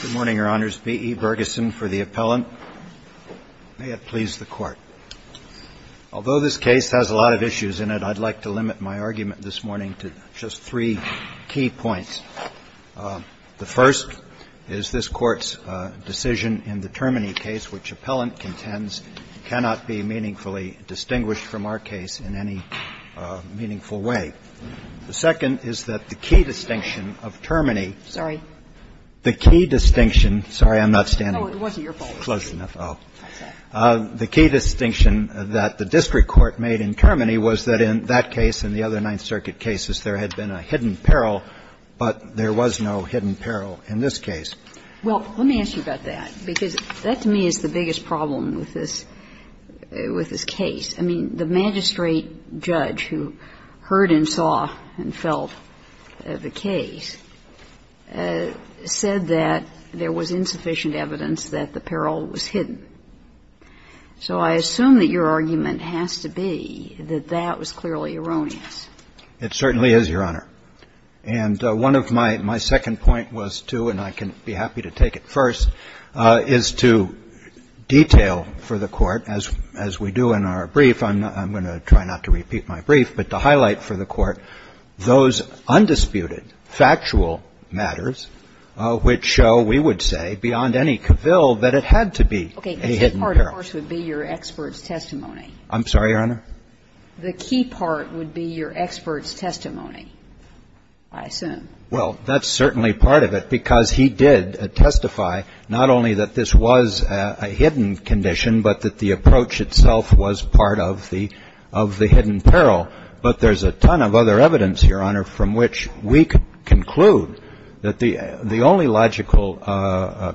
Good morning, Your Honors. B. E. Bergeson for the appellant. May it please the Court. Although this case has a lot of issues in it, I'd like to limit my argument this morning to just three key points. The first is this Court's decision in the Termini case, which appellant contends cannot be meaningfully distinguished from our case in any meaningful way. The second is that the key distinction of Termini ---- Sorry. The key distinction ---- Sorry, I'm not standing. No, it wasn't your fault. It's close enough. The key distinction that the district court made in Termini was that in that case and the other Ninth Circuit cases, there had been a hidden peril, but there was no hidden peril in this case. Well, let me ask you about that, because that to me is the biggest problem with this case. I mean, the magistrate judge who heard and saw and felt the case said that there was insufficient evidence that the peril was hidden. So I assume that your argument has to be that that was clearly erroneous. It certainly is, Your Honor. And one of my ---- my second point was to, and I can be happy to take it first, is to detail for the Court, as we do in our brief, I'm going to try not to repeat my brief, but to highlight for the Court those undisputed factual matters which show, we would say, beyond any cavil that it had to be. Okay. A hidden peril. The key part, of course, would be your expert's testimony. I'm sorry, Your Honor? The key part would be your expert's testimony, I assume. Well, that's certainly part of it, because he did testify not only that this was a hidden condition, but that the approach itself was part of the hidden peril. But there's a ton of other evidence, Your Honor, from which we could conclude that the only logical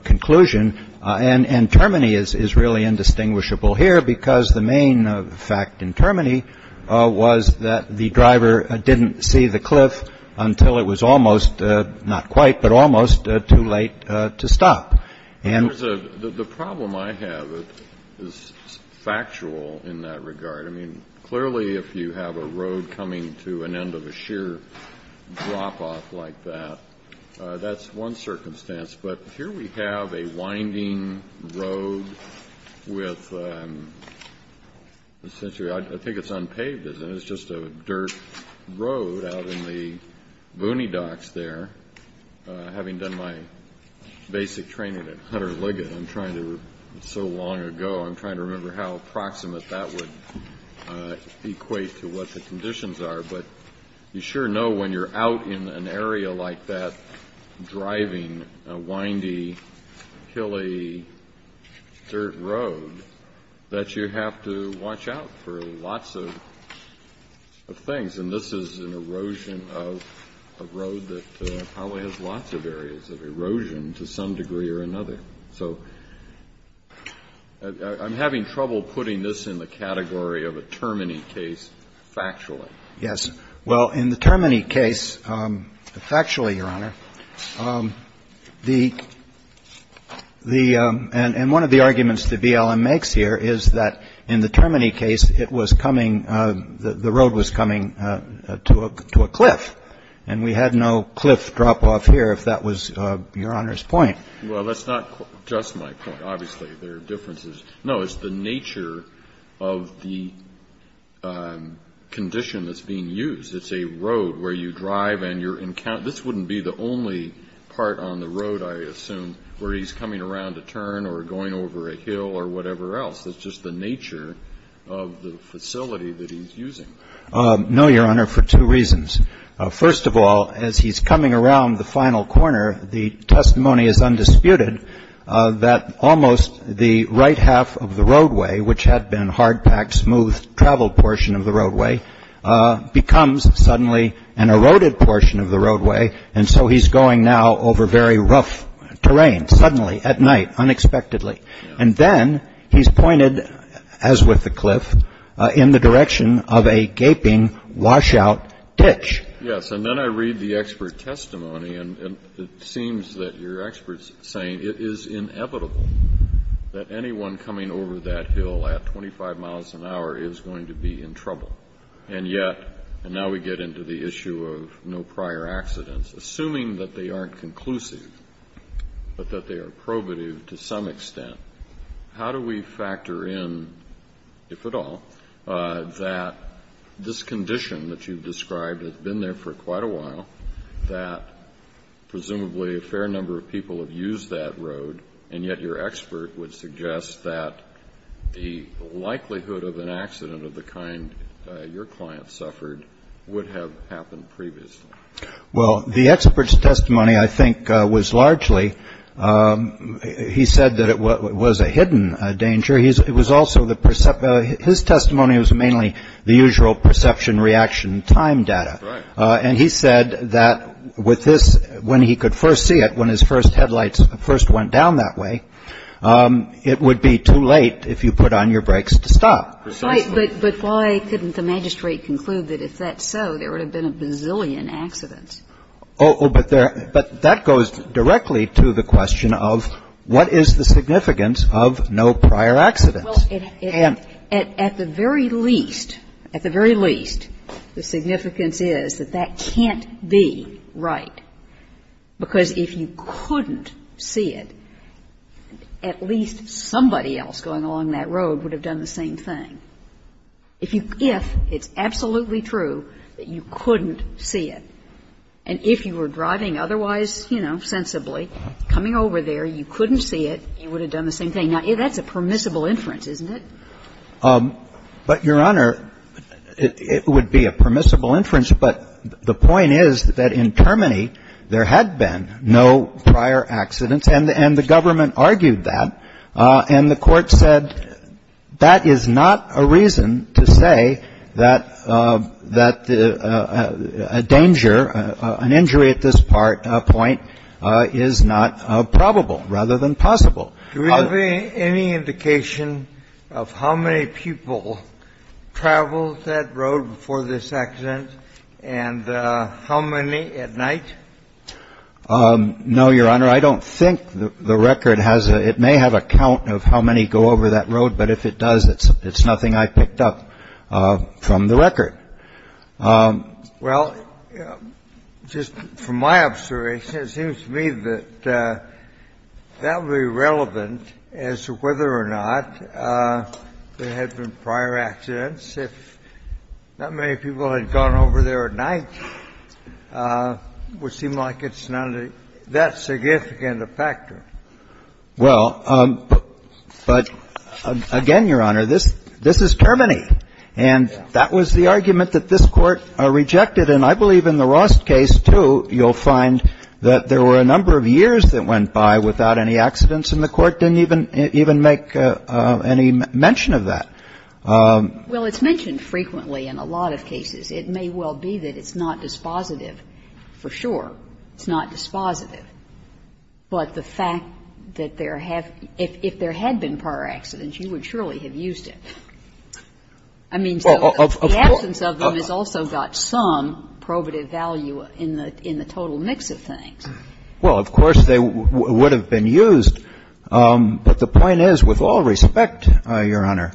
conclusion, and Termini is really indistinguishable here, because the main fact in Termini was that the driver didn't see the cliff until it was almost, not quite, but almost too late to stop. And the problem I have is factual in that regard. I mean, clearly, if you have a road coming to an end of a sheer drop-off like that, that's one circumstance. But here we have a winding road with essentially, I think it's unpaved, isn't it? It's just a dirt road out in the boonie docks there. Having done my basic training at Hutter Liggett, I'm trying to so long ago, I'm trying to remember how approximate that would equate to what the conditions are, but you sure know when you're out in an area like that, driving a windy, hilly, dirt road, that you have to watch out for lots of things. And this is an erosion of a road that probably has lots of areas of erosion to some degree or another. So I'm having trouble putting this in the category of a Termini case factually. Yes. Well, in the Termini case, factually, Your Honor, the — and one of the arguments that BLM makes here is that in the Termini case, it was coming — the road was coming to a cliff. And we had no cliff drop-off here, if that was Your Honor's point. Well, that's not just my point. Obviously, there are differences. No, it's the nature of the condition that's being used. It's a road where you drive and you're in — this wouldn't be the only part on the road, I assume, where he's coming around a turn or going over a hill or whatever else. It's just the nature of the facility that he's using. No, Your Honor, for two reasons. First of all, as he's coming around the final corner, the testimony is undisputed that almost the right half of the roadway, which had been hard-packed, smooth travel portion of the roadway, becomes suddenly an eroded portion of the roadway. And so he's going now over very rough terrain, suddenly, at night, unexpectedly. And then he's pointed, as with the cliff, in the direction of a gaping, washout ditch. Yes, and then I read the expert testimony, and it seems that your expert's saying it is inevitable that anyone coming over that hill at 25 miles an hour is going to be in trouble. And yet — and now we get into the issue of no prior accidents. Assuming that they aren't conclusive, but that they are probative to some extent, how do we factor in, if at all, that this condition that you've described has been there for quite a while, that presumably a fair number of people have used that road, and yet your expert would suggest that the likelihood of an accident of the kind your client suffered would have happened previously? Well, the expert's testimony, I think, was largely — he said that it was a hidden danger. It was also the — his testimony was mainly the usual perception, reaction, time data. And he said that with this, when he could first see it, when his first headlights first went down that way, it would be too late if you put on your brakes to stop. But why couldn't the magistrate conclude that if that's so, there would have been a bazillion accidents? Oh, but that goes directly to the question of what is the significance of no prior accidents? Well, at the very least, at the very least, the significance is that that can't be right. Because if you couldn't see it, at least somebody else going along that road would have done the same thing. If you — if it's absolutely true that you couldn't see it, and if you were driving otherwise, you know, sensibly, coming over there, you couldn't see it, you would have done the same thing. Now, that's a permissible inference, isn't it? But, Your Honor, it would be a permissible inference. But the point is that in Termini, there had been no prior accidents, and the government argued that, and the Court said that is not a reason to say that a danger, an injury at this point, is not probable rather than possible. Do we have any indication of how many people traveled that road before this accident and how many at night? No, Your Honor. I don't think the record has a — it may have a count of how many go over that road, but if it does, it's nothing I picked up from the record. Well, just from my observation, it seems to me that that would be relevant as to whether or not there had been prior accidents. If that many people had gone over there at night, it would seem like it's not that significant a factor. Well, but again, Your Honor, this is Termini. And that was the argument that this Court rejected. And I believe in the Ross case, too, you'll find that there were a number of years that went by without any accidents, and the Court didn't even make any mention of that. Well, it's mentioned frequently in a lot of cases. It may well be that it's not dispositive, for sure. It's not dispositive. But the fact that there have — if there had been prior accidents, you would surely have used it. I mean, the absence of them has also got some probative value in the total mix of things. Well, of course, they would have been used. But the point is, with all respect, Your Honor,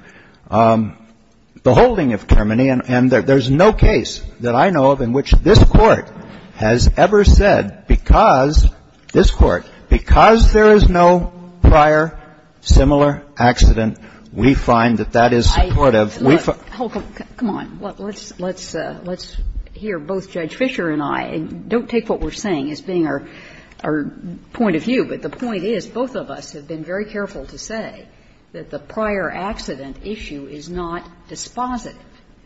the holding of Termini, and there's no case that I know of in which this Court has ever said, because this Court, because there is no prior similar accident, we find that that is supportive. We find that that is supportive. Kagan, come on. Let's hear both Judge Fischer and I. Don't take what we're saying as being our point of view. But the point is, both of us have been very careful to say that the prior accident issue is not dispositive.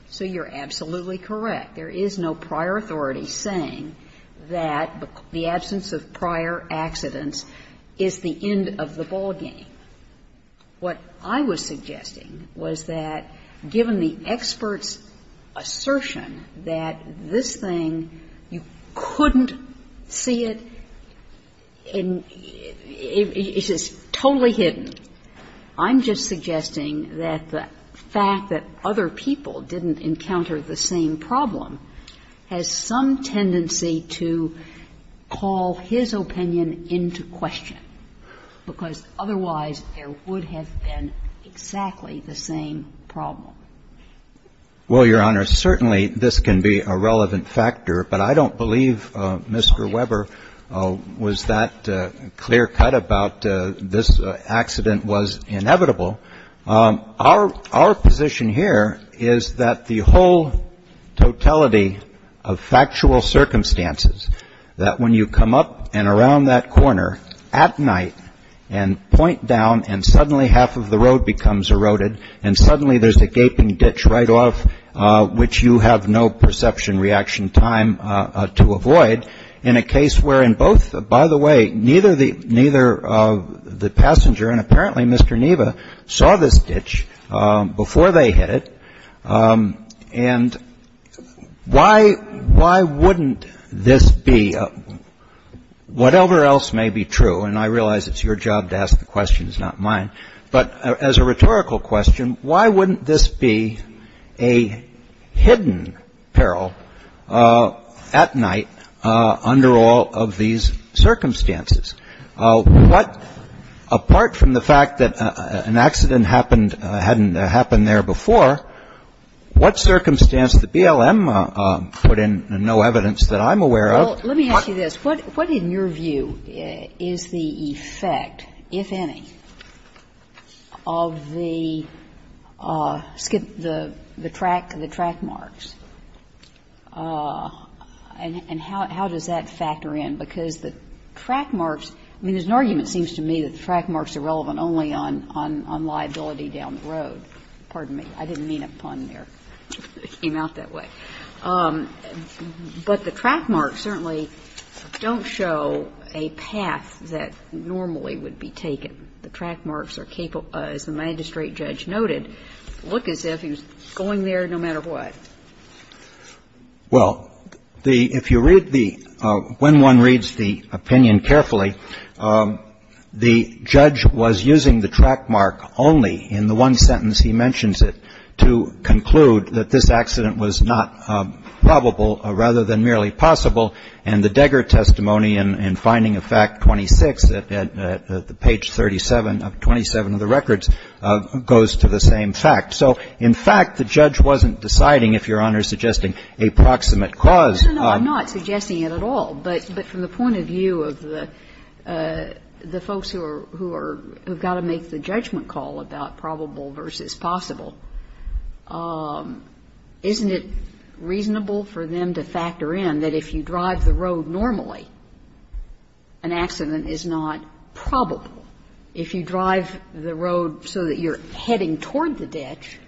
So you're absolutely correct. There is no prior authority saying that the absence of prior accidents is the end of the ballgame. What I was suggesting was that, given the expert's assertion that this thing, you couldn't see it, and it's just totally hidden, I'm just suggesting that the fact that other people didn't encounter the same problem has some tendency to call his opinion into question, because otherwise there would have been exactly the same problem. Well, Your Honor, certainly this can be a relevant factor, but I don't believe Mr. Weber was that clear-cut about this accident was inevitable. Our position here is that the whole totality of factual circumstances, that when you come up and around that corner at night and point down and suddenly half of the road becomes eroded and suddenly there's a gaping ditch right off, which you have no perception reaction time to avoid, in a case where in both, by the way, neither the passenger and apparently Mr. Neva saw this ditch before they hit it, and why wouldn't this be, whatever else may be true, and I realize it's your job to ask the questions, not mine, but as a rhetorical question, why wouldn't this be a hidden peril at night under all of these circumstances? What, apart from the fact that an accident happened, hadn't happened there before, what circumstance did BLM put in, and no evidence that I'm aware of? Well, let me ask you this. What in your view is the effect, if any, of the track marks? And how does that factor in? Because the track marks, I mean, there's an argument, it seems to me, that the track marks are relevant only on liability down the road. Pardon me. I didn't mean a pun there. It came out that way. But the track marks certainly don't show a path that normally would be taken. The track marks are capable, as the magistrate judge noted, look as if he was going there no matter what. Well, if you read the – when one reads the opinion carefully, the judge was using the track mark only in the one sentence he mentions it to conclude that this accident was not probable rather than merely possible, and the Degger testimony in finding of fact 26 at page 37 of 27 of the records goes to the same fact. So, in fact, the judge wasn't deciding, if Your Honor is suggesting, a proximate cause. No, no, no. I'm not suggesting it at all. But from the point of view of the folks who are – who have got to make the judgment call about probable versus possible, isn't it reasonable for them to factor in that if you drive the road normally, an accident is not probable? If you drive the road so that you're heading toward the ditch,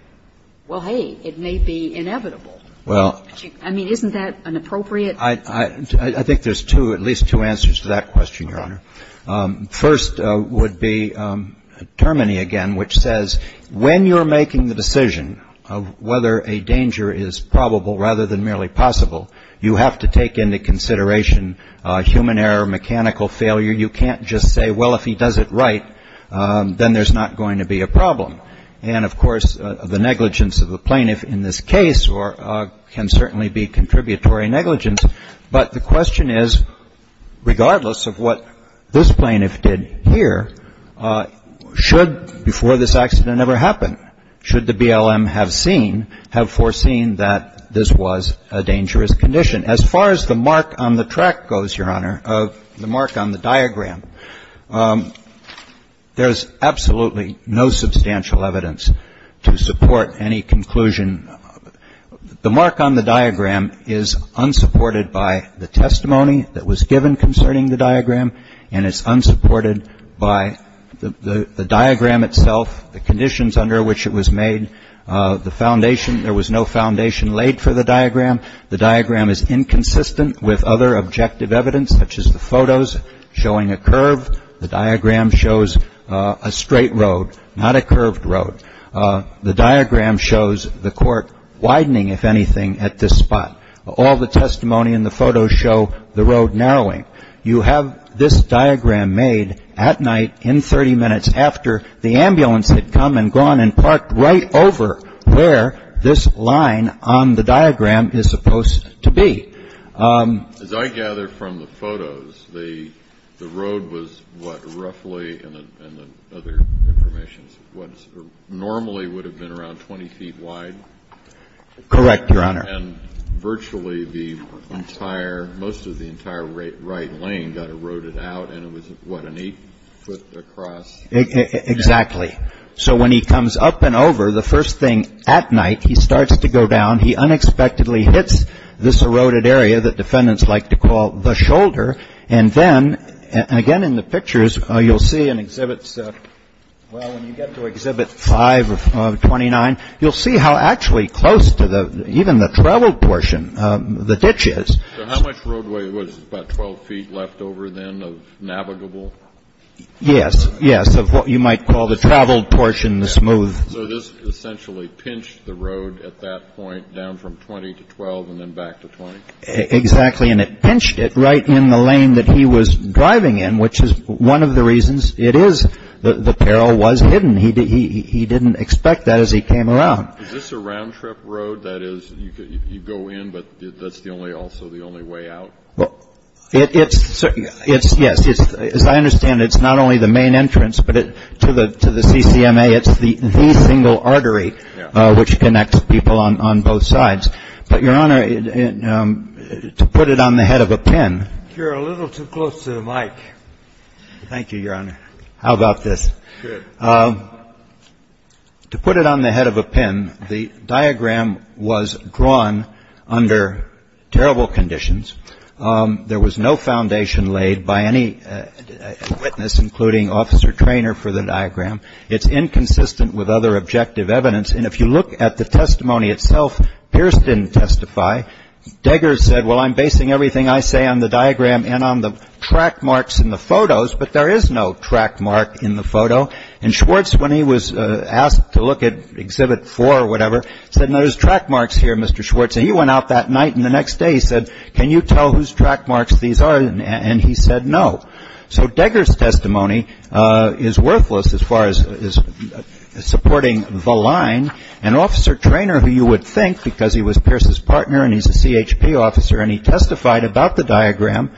well, hey, it may be inevitable. Well – I mean, isn't that an appropriate – I think there's two – at least two answers to that question, Your Honor. First would be Termini again, which says when you're making the decision of whether a danger is probable rather than merely possible, you have to take into consideration human error, mechanical failure. You can't just say, well, if he does it right, then there's not going to be a problem. And, of course, the negligence of the plaintiff in this case can certainly be contributory negligence. But the question is, regardless of what this plaintiff did here, should – before this accident ever happened, should the BLM have seen – have foreseen that this was a dangerous condition? As far as the mark on the track goes, Your Honor, the mark on the diagram, there's absolutely no substantial evidence to support any conclusion. The mark on the diagram is unsupported by the testimony that was given concerning the diagram, and it's unsupported by the diagram itself, the conditions under which it was made, the foundation – there was no foundation laid for the diagram. The diagram is inconsistent with other objective evidence, such as the photos showing a curve. The diagram shows a straight road, not a curved road. The diagram shows the court widening, if anything, at this spot. All the testimony in the photos show the road narrowing. You have this diagram made at night in 30 minutes after the ambulance had come and gone and parked right over where this line on the diagram is supposed to be. As I gather from the photos, the road was what, roughly – and the other information supports – normally would have been around 20 feet wide? Correct, Your Honor. And virtually the entire – most of the entire right lane got eroded out, and it was what, an 8-foot across? Exactly. So when he comes up and over, the first thing at night, he starts to go down. He unexpectedly hits this eroded area that defendants like to call the shoulder, and then – again, in the pictures, you'll see in exhibits – well, when you get to Exhibit 5 of 29, you'll see how actually close to the – even the travel portion, the ditch is. So how much roadway was – about 12 feet left over, then, of navigable? Yes. Yes, of what you might call the travel portion, the smooth. So this essentially pinched the road at that point, down from 20 to 12, and then back to 20? Exactly. And it pinched it right in the lane that he was driving in, which is one of the reasons it is – the peril was hidden. He didn't expect that as he came around. Is this a round-trip road? That is, you go in, but that's the only – also the only way out? Well, it's – yes. As I understand it, it's not only the main entrance, but to the CCMA, it's the single artery which connects people on both sides. But, Your Honor, to put it on the head of a pin – You're a little too close to the mic. Thank you, Your Honor. How about this? To put it on the head of a pin, the diagram was drawn under terrible conditions. There was no foundation laid by any witness, including Officer Traynor, for the diagram. It's inconsistent with other objective evidence, and if you look at the testimony itself, Pierce didn't testify. Deggers said, well, I'm basing everything I say on the diagram and on the track marks in the photos, but there is no track mark in the photo. And Schwartz, when he was asked to look at Exhibit 4 or whatever, said, no, there's track marks here, Mr. Schwartz. And he went out that night, and the next day he said, can you tell whose track marks these are? And he said no. So Deggers' testimony is worthless as far as supporting the line, and Officer Traynor, who you would think, because he was Pierce's partner and he's a CHP officer and he testified about the diagram,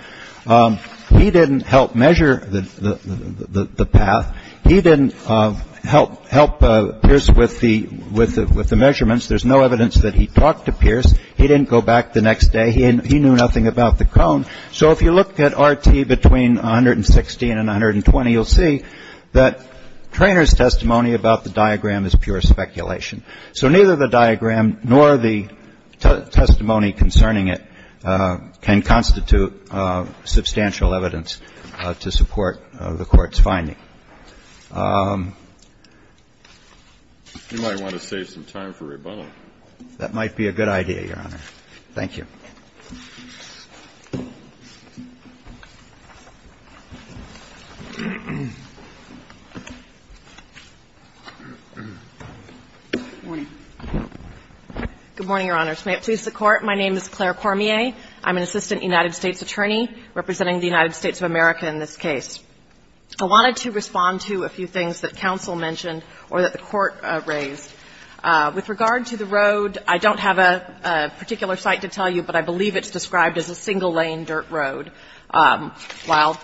he didn't help measure the path. He didn't help Pierce with the measurements. There's no evidence that he talked to Pierce. He didn't go back the next day. He knew nothing about the cone. So if you look at RT between 116 and 120, you'll see that Traynor's testimony about the diagram is pure speculation. So neither the diagram nor the testimony concerning it can constitute substantial evidence to support the Court's finding. That might be a good idea, Your Honor. Thank you. Good morning, Your Honors. May it please the Court, my name is Claire Cormier. I'm an assistant United States attorney representing the United States of America in this case. I wanted to respond to a few things that counsel mentioned or that the Court raised. With regard to the road, I don't have a particular site to tell you, but I believe it's described as a single-lane dirt road. While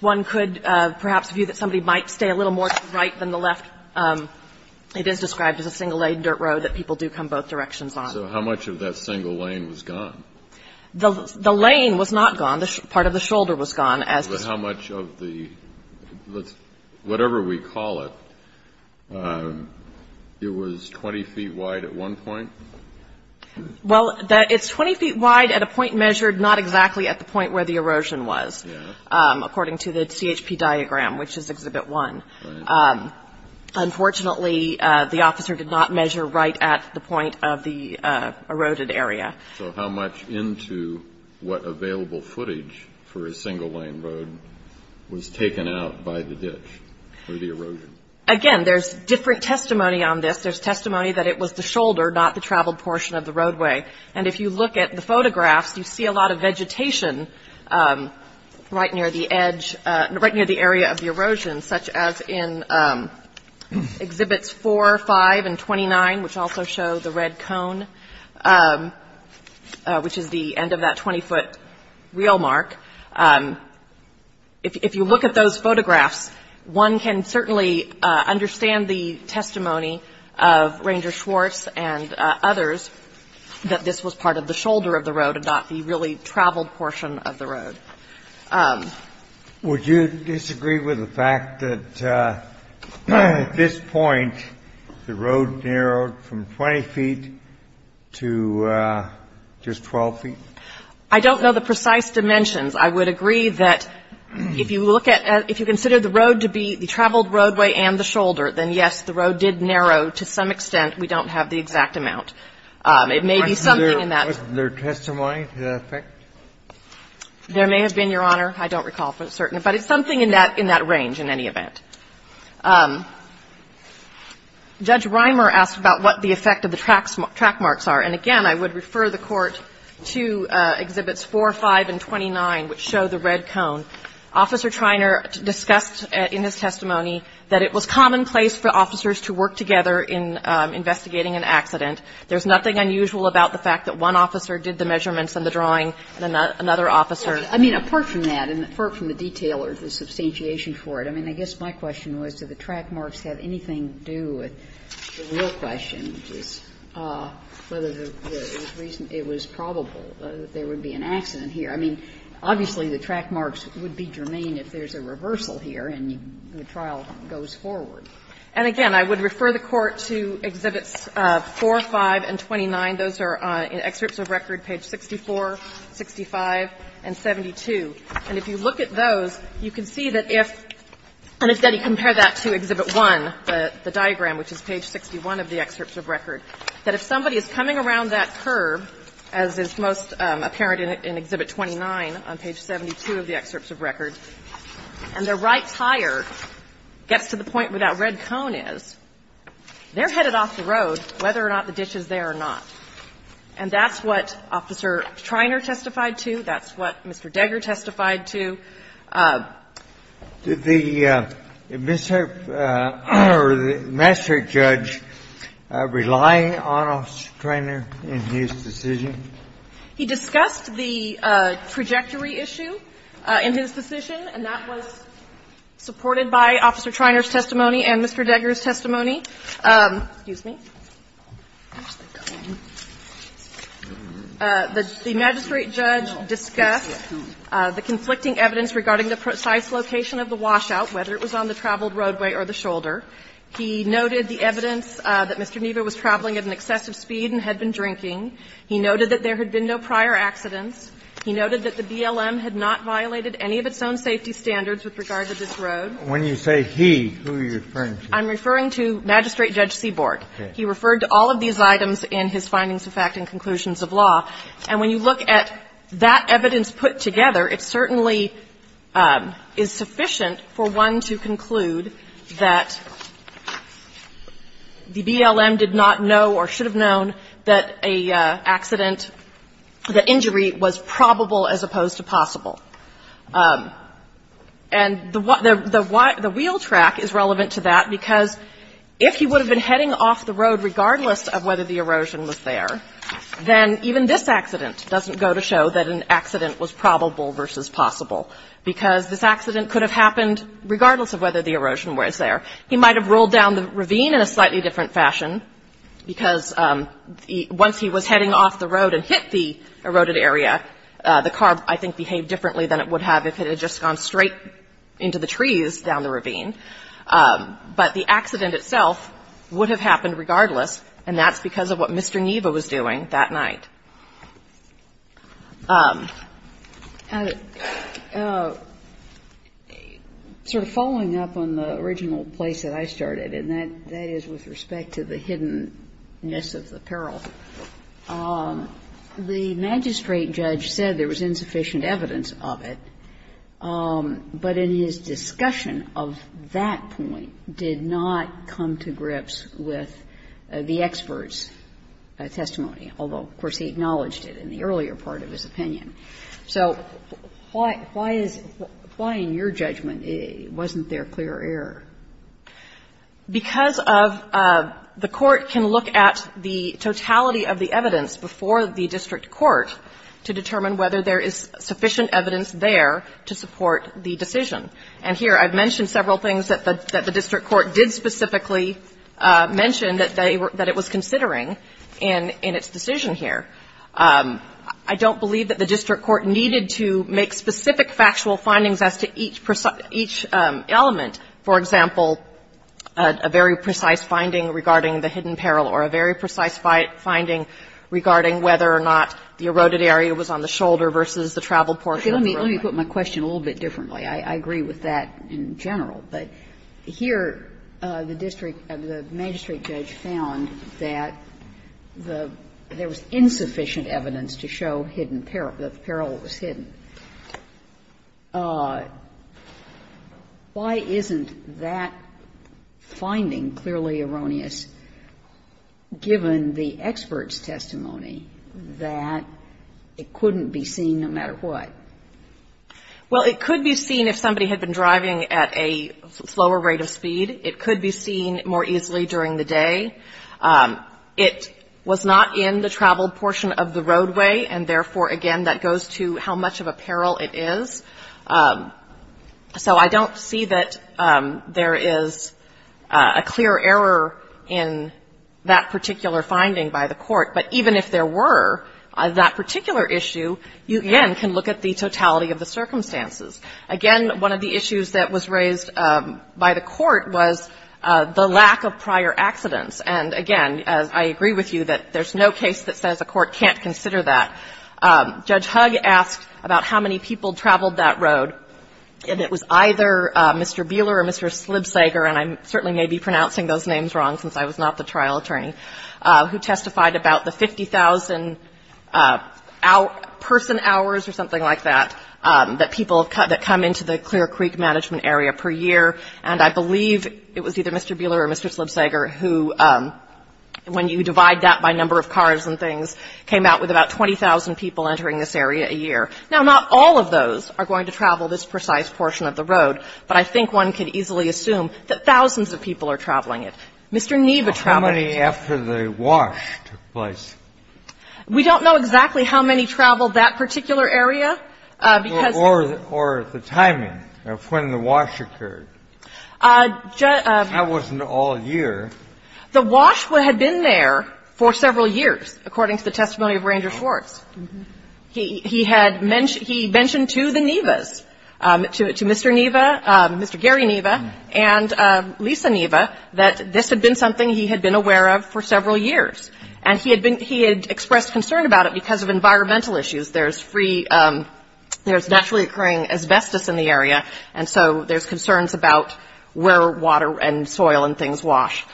one could perhaps view that somebody might stay a little more to the right than the left, it is described as a single-lane dirt road that people do come both directions on. So how much of that single lane was gone? The lane was not gone. Part of the shoulder was gone. So how much of the, whatever we call it, it was 20 feet wide at one point? Well, it's 20 feet wide at a point measured not exactly at the point where the erosion was, according to the CHP diagram, which is Exhibit 1. Unfortunately, the officer did not measure right at the point of the eroded area. So how much into what available footage for a single-lane road was taken out by the ditch or the erosion? Again, there's different testimony on this. There's testimony that it was the shoulder, not the traveled portion of the roadway. And if you look at the photographs, you see a lot of vegetation right near the edge, right near the area of the erosion, such as in Exhibits 4, 5, and 29, which also show the red cone, which is the end of that 20-foot reel mark. If you look at those photographs, one can certainly understand the testimony of Ranger Schwartz and others that this was part of the shoulder of the road and not the really traveled portion of the road. Would you disagree with the fact that at this point the road narrowed from 20 feet to just 12 feet? I don't know the precise dimensions. I would agree that if you look at the road to be the traveled roadway and the shoulder, then, yes, the road did narrow to some extent. We don't have the exact amount. It may be something in that. Was there testimony to that effect? There may have been, Your Honor. I don't recall for certain. But it's something in that range in any event. Judge Reimer asked about what the effect of the track marks are. And, again, I would refer the Court to Exhibits 4, 5, and 29, which show the red cone. Officer Treiner discussed in his testimony that it was commonplace for officers to work together in investigating an accident. There's nothing unusual about the fact that one officer did the measurements and the drawing, and another officer. I mean, apart from that, and apart from the detail or the substantiation for it, I mean, I guess my question was, do the track marks have anything to do with the real question, which is whether the reason it was probable that there would be an accident here. I mean, obviously, the track marks would be germane if there's a reversal here and the trial goes forward. And, again, I would refer the Court to Exhibits 4, 5, and 29. Those are in Excerpts of Record, page 64, 65, and 72. And if you look at those, you can see that if you compare that to Exhibit 1, the diagram, which is page 61 of the Excerpts of Record, that if somebody is coming around that curb, as is most apparent in Exhibit 29 on page 72 of the Excerpts of Record, and their right tire gets to the point where that red cone is, they're headed off the road whether or not the ditch is there or not. And that's what Officer Treiner testified to. That's what Mr. Degger testified to. Kennedy. Did the Mr. or the master judge rely on Officer Treiner in his decision? He discussed the trajectory issue in his decision, and that was supported by Officer Treiner's testimony and Mr. Degger's testimony. Excuse me. The magistrate judge discussed the conflicting evidence regarding the precise location of the washout, whether it was on the traveled roadway or the shoulder. He noted the evidence that Mr. Neva was traveling at an excessive speed and had been drinking. He noted that there had been no prior accidents. He noted that the BLM had not violated any of its own safety standards with regard to this road. When you say he, who are you referring to? I'm referring to Magistrate Judge Seaborg. He referred to all of these items in his findings of fact and conclusions of law, and when you look at that evidence put together, it certainly is sufficient for one to conclude that the BLM did not know or should have known that a accident or the injury was probable as opposed to possible. And the wheel track is relevant to that because if he would have been heading off the road regardless of whether the erosion was there, then even this accident doesn't go to show that an accident was probable versus possible, because this accident could have happened regardless of whether the erosion was there. He might have rolled down the ravine in a slightly different fashion because once he was heading off the road and hit the eroded area, the car, I think, behaved differently than it would have if it had just gone straight into the trees down the ravine. But the accident itself would have happened regardless, and that's because of what Mr. Niebuhr was doing that night. Sotomayor, following up on the original place that I started, and that is with respect to the hiddenness of the peril, the magistrate judge said there was insufficient evidence of it, but in his discussion of that point did not come to grips with the expert's testimony, although, of course, he acknowledged it in the earlier part of his opinion. So why is why, in your judgment, wasn't there clear error? Because of the court can look at the totality of the evidence before the district court to determine whether there is sufficient evidence there to support the decision. And here, I've mentioned several things that the district court did specifically mention that they were – that it was considering in its decision here. I don't believe that the district court needed to make specific factual findings as to each element. For example, a very precise finding regarding the hidden peril or a very precise finding regarding whether or not the eroded area was on the shoulder versus the traveled portion of the roadway. Kagan. Let me put my question a little bit differently. I agree with that in general, but here the district – the magistrate judge found that there was insufficient evidence to show hidden peril, that the peril was hidden. Why isn't that finding clearly erroneous, given the expert's testimony, that it couldn't be seen no matter what? Well, it could be seen if somebody had been driving at a slower rate of speed. It could be seen more easily during the day. It was not in the traveled portion of the roadway, and therefore, again, that goes to how much of a peril it is. So I don't see that there is a clear error in that particular finding by the court, but even if there were, that particular issue, you again can look at the totality of the circumstances. Again, one of the issues that was raised by the court was the lack of prior accidents. And again, I agree with you that there's no case that says a court can't consider that. Judge Hugg asked about how many people traveled that road, and it was either Mr. Buehler or Mr. Slibseger, and I certainly may be pronouncing those names wrong since I was not the trial attorney, who testified about the 50,000 person hours or something like that, that people that come into the Clear Creek management area per year. And I believe it was either Mr. Buehler or Mr. Slibseger who, when you divide that by number of cars and things, came out with about 20,000 people entering this area a year. Now, not all of those are going to travel this precise portion of the road, but I think one could easily assume that thousands of people are traveling it. Mr. Neva traveled it. Kennedy. How many after the wash took place? We don't know exactly how many traveled that particular area, because the timing of when the wash occurred. I wasn't all year. The wash had been there for several years, according to the testimony of Ranger Schwartz. He had mentioned to the Nevas, to Mr. Neva, Mr. Gary Neva, and Lisa Neva, that this had been something he had been aware of for several years. And he had been he had expressed concern about it because of environmental issues. There's free, there's naturally occurring asbestos in the area, and so there's water and soil and things wash.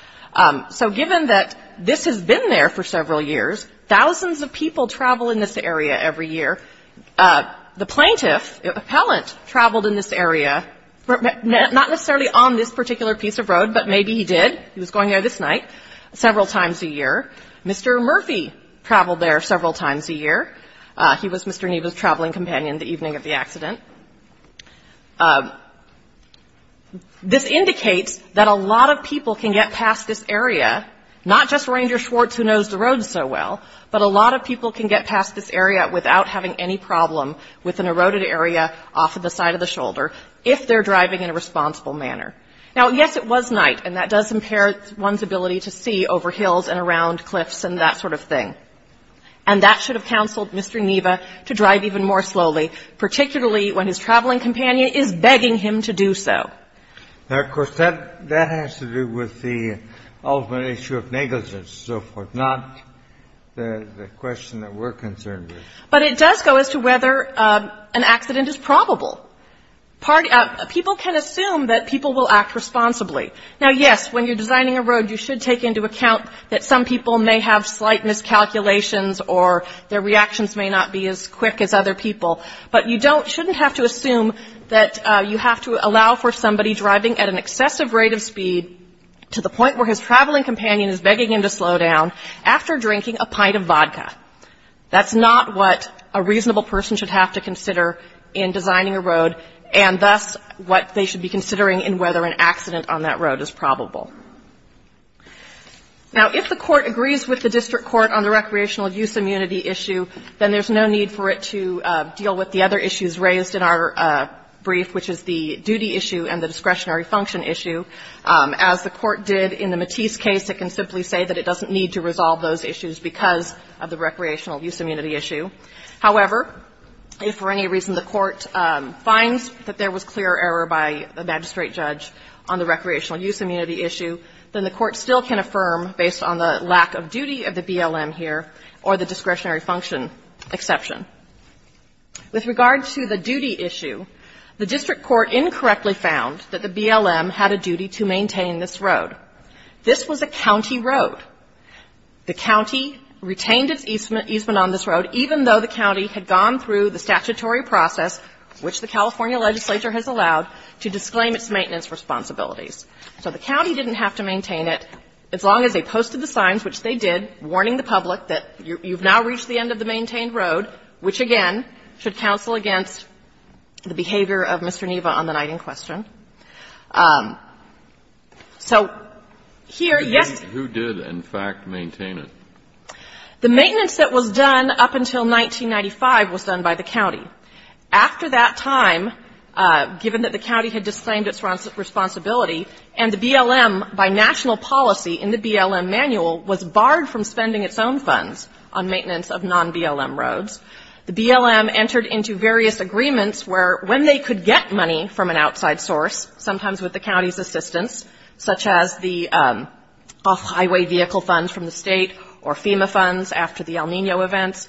So given that this has been there for several years, thousands of people travel in this area every year. The plaintiff, the appellant, traveled in this area, not necessarily on this particular piece of road, but maybe he did. He was going there this night several times a year. Mr. Murphy traveled there several times a year. He was Mr. Neva's traveling companion the evening of the accident. This indicates that a lot of people can get past this area, not just Ranger Schwartz, who knows the road so well, but a lot of people can get past this area without having any problem with an eroded area off of the side of the shoulder, if they're driving in a responsible manner. Now, yes, it was night, and that does impair one's ability to see over hills and around cliffs and that sort of thing. And that should have counseled Mr. Neva to drive even more slowly, particularly when his traveling companion is begging him to do so. Now, of course, that has to do with the ultimate issue of negligence and so forth, not the question that we're concerned with. But it does go as to whether an accident is probable. People can assume that people will act responsibly. Now, yes, when you're designing a road, you should take into account that some people may have slight miscalculations or their reactions may not be as quick as other people. But you don't, shouldn't have to assume that you have to allow for somebody driving at an excessive rate of speed to the point where his traveling companion is begging him to slow down after drinking a pint of vodka. That's not what a reasonable person should have to consider in designing a road and thus what they should be considering in whether an accident on that road is probable. Now, if the Court agrees with the district court on the recreational use immunity issue, then there's no need for it to deal with the other issues raised in our brief, which is the duty issue and the discretionary function issue. As the Court did in the Matisse case, it can simply say that it doesn't need to resolve those issues because of the recreational use immunity issue. However, if for any reason the Court finds that there was clear error by a magistrate judge on the recreational use immunity issue, then the Court still can affirm, based on the lack of duty of the BLM here or the discretionary function exception. With regard to the duty issue, the district court incorrectly found that the BLM had a duty to maintain this road. This was a county road. The county retained its easement on this road, even though the county had gone through the statutory process, which the California legislature has allowed, to disclaim its maintenance responsibilities. So the county didn't have to maintain it as long as they posted the signs, which they did, warning the public that you've now reached the end of the maintained road, which, again, should counsel against the behavior of Mr. Neva on the night in question. So here, yes. Kennedy, who did, in fact, maintain it? After that time, given that the county had disclaimed its responsibility and the BLM, by national policy in the BLM manual, was barred from spending its own funds on maintenance of non-BLM roads, the BLM entered into various agreements where, when they could get money from an outside source, sometimes with the county's assistance, such as the off-highway vehicle funds from the State of California or FEMA funds after the El Nino events,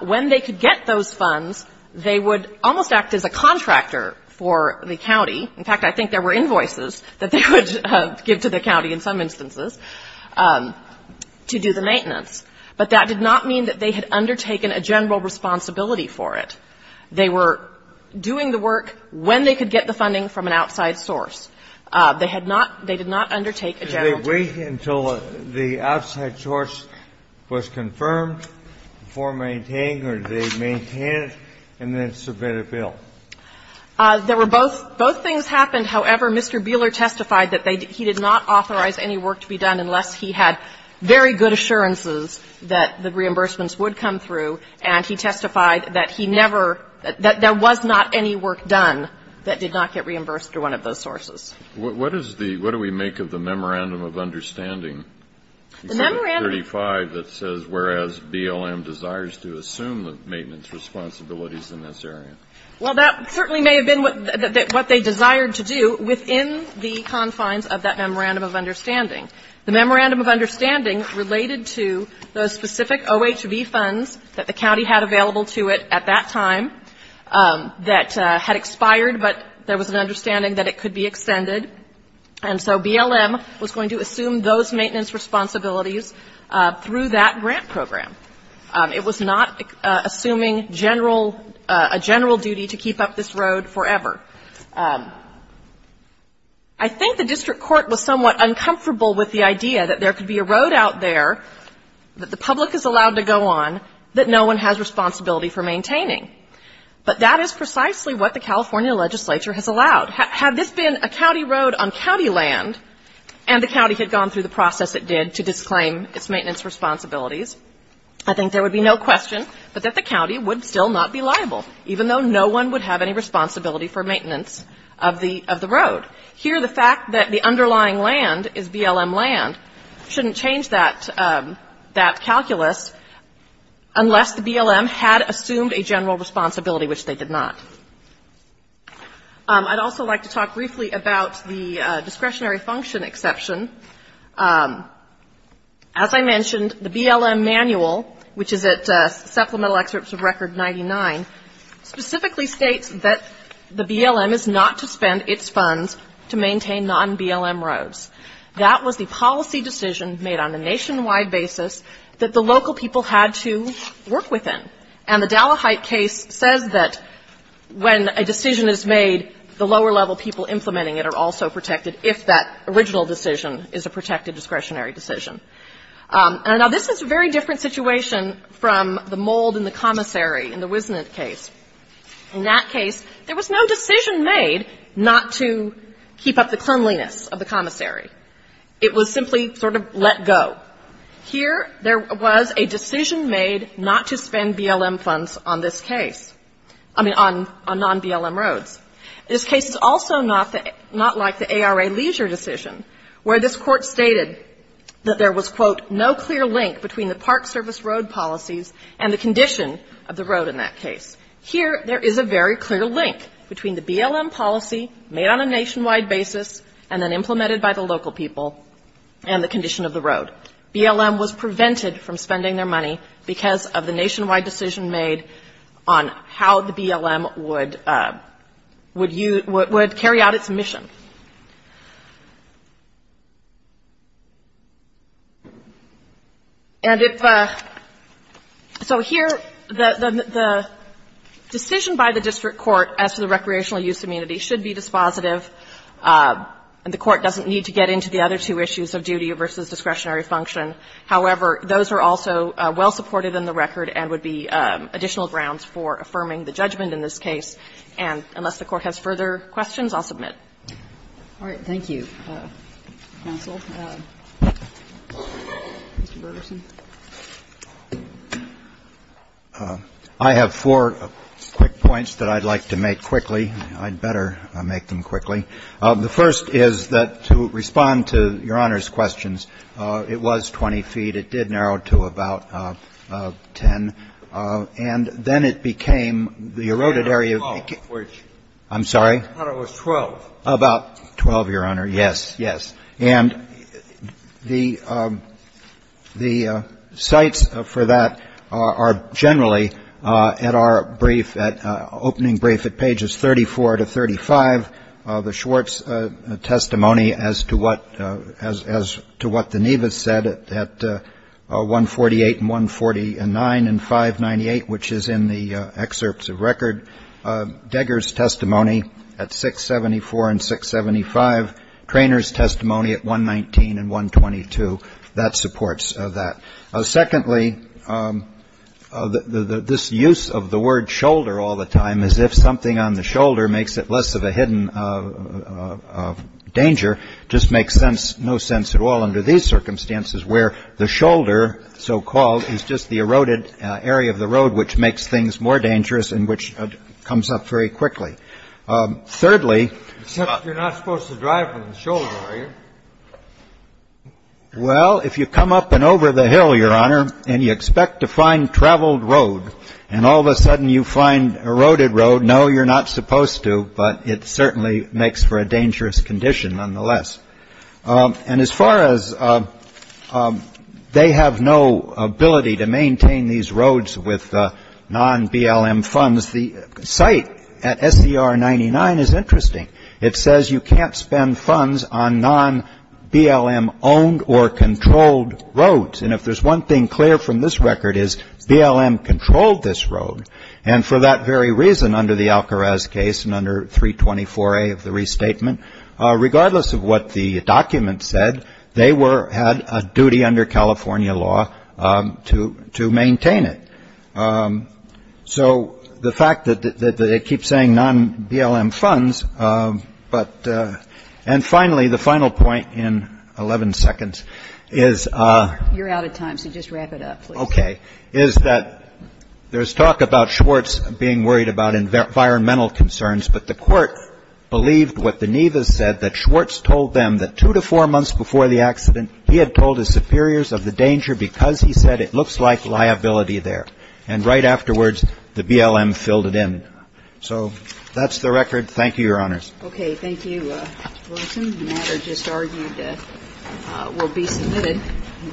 when they could get those funds, they would almost act as a contractor for the county. In fact, I think there were invoices that they would give to the county in some instances to do the maintenance. But that did not mean that they had undertaken a general responsibility for it. They were doing the work when they could get the funding from an outside source. They had not – they did not undertake a general responsibility. The question is, did they do the maintenance and then submit a bill? The question is, did they get the funding from the outside source, was confirmed before maintaining or did they maintain and then submit a bill? There were both. Both things happened. However, Mr. Buehler testified that they – he did not authorize any work to be done whereas BLM desires to assume the maintenance responsibilities in this area. Well, that certainly may have been what they desired to do within the confines of that memorandum of understanding. The memorandum of understanding related to those specific OHV funds that the county had available to it at that time that had expired, but there was an understanding that it could be extended. And so BLM was going to assume those maintenance responsibilities through that grant program. It was not assuming general – a general duty to keep up this road forever. I think the district court was somewhat uncomfortable with the idea that there could be a road out there that the public is allowed to go on that no one has responsibility for maintaining. But that is precisely what the California legislature has allowed. Had this been a county road on county land and the county had gone through the process it did to disclaim its maintenance responsibilities, I think there would be no question but that the county would still not be liable, even though no one would have any responsibility for maintenance of the road. Here, the fact that the underlying land is BLM land shouldn't change that calculus unless the BLM had assumed a general responsibility, which they did not. I'd also like to talk briefly about the discretionary function exception. As I mentioned, the BLM manual, which is at Supplemental Excerpts of Record 99, specifically states that the BLM is not to spend its funds to maintain non-BLM roads. That was the policy decision made on a nationwide basis that the local people had to work within. And the Dallaheit case says that when a decision is made, the lower level people implementing it are also protected if that original decision is a protected discretionary decision. Now, this is a very different situation from the mold in the commissary in the Wisnant case. In that case, there was no decision made not to keep up the cleanliness of the commissary. It was simply sort of let go. Here, there was a decision made not to spend BLM funds on this case. I mean, on non-BLM roads. This case is also not like the ARA leisure decision, where this Court stated that there was, quote, no clear link between the Park Service road policies and the condition of the road in that case. Here, there is a very clear link between the BLM policy made on a nationwide basis and then implemented by the local people and the condition of the road. BLM was prevented from spending their money because of the nationwide decision made on how the BLM would use, would carry out its mission. And if, so here, the decision by the district court as to the recreational use community should be dispositive and the Court doesn't need to get into the other two issues of duty versus discretionary function. However, those are also well supported in the record and would be additional grounds for affirming the judgment in this case. And unless the Court has further questions, I'll submit. All right. Thank you, counsel. Mr. Bergerson. I have four quick points that I'd like to make quickly. I'd better make them quickly. The first is that to respond to Your Honor's questions, it was 20 feet. It did narrow to about 10. And then it became the eroded area. I'm sorry? I thought it was 12. About 12, Your Honor. Yes, yes. And the sites for that are generally at our brief, at opening brief at pages 34 to 35. The Schwartz testimony as to what the Nevis said at 148 and 149 and 598, which is in the excerpts of record. Degger's testimony at 674 and 675. Traynor's testimony at 119 and 122. That supports that. Secondly, this use of the word shoulder all the time as if something on the shoulder makes it less of a hidden danger just makes no sense at all under these circumstances where the shoulder, so-called, is just the eroded area of the road, which makes things more dangerous and which comes up very quickly. Thirdly. Except you're not supposed to drive with a shoulder, are you? Well, if you come up and over the hill, Your Honor, and you expect to find traveled road and all of a sudden you find eroded road, no, you're not supposed to. But it certainly makes for a dangerous condition nonetheless. And as far as they have no ability to maintain these roads with non-BLM funds, the site at SCR 99 is interesting. It says you can't spend funds on non-BLM owned or controlled roads. And if there's one thing clear from this record is BLM controlled this road. And for that very reason, under the Alkaraz case and under 324A of the restatement, regardless of what the document said, they had a duty under California law to maintain it. So the fact that it keeps saying non-BLM funds, but, and finally, the final point in 11 seconds is. You're out of time, so just wrap it up, please. Okay. Is that there's talk about Schwartz being worried about environmental concerns, but the court believed what the Nevis said, that Schwartz told them that two to four months before the accident, he had told his superiors of the danger because he said it looks like liability there. And right afterwards, the BLM filled it in. So that's the record. Thank you, Your Honors. Okay. Thank you, Wilson. The matter just argued will be submitted.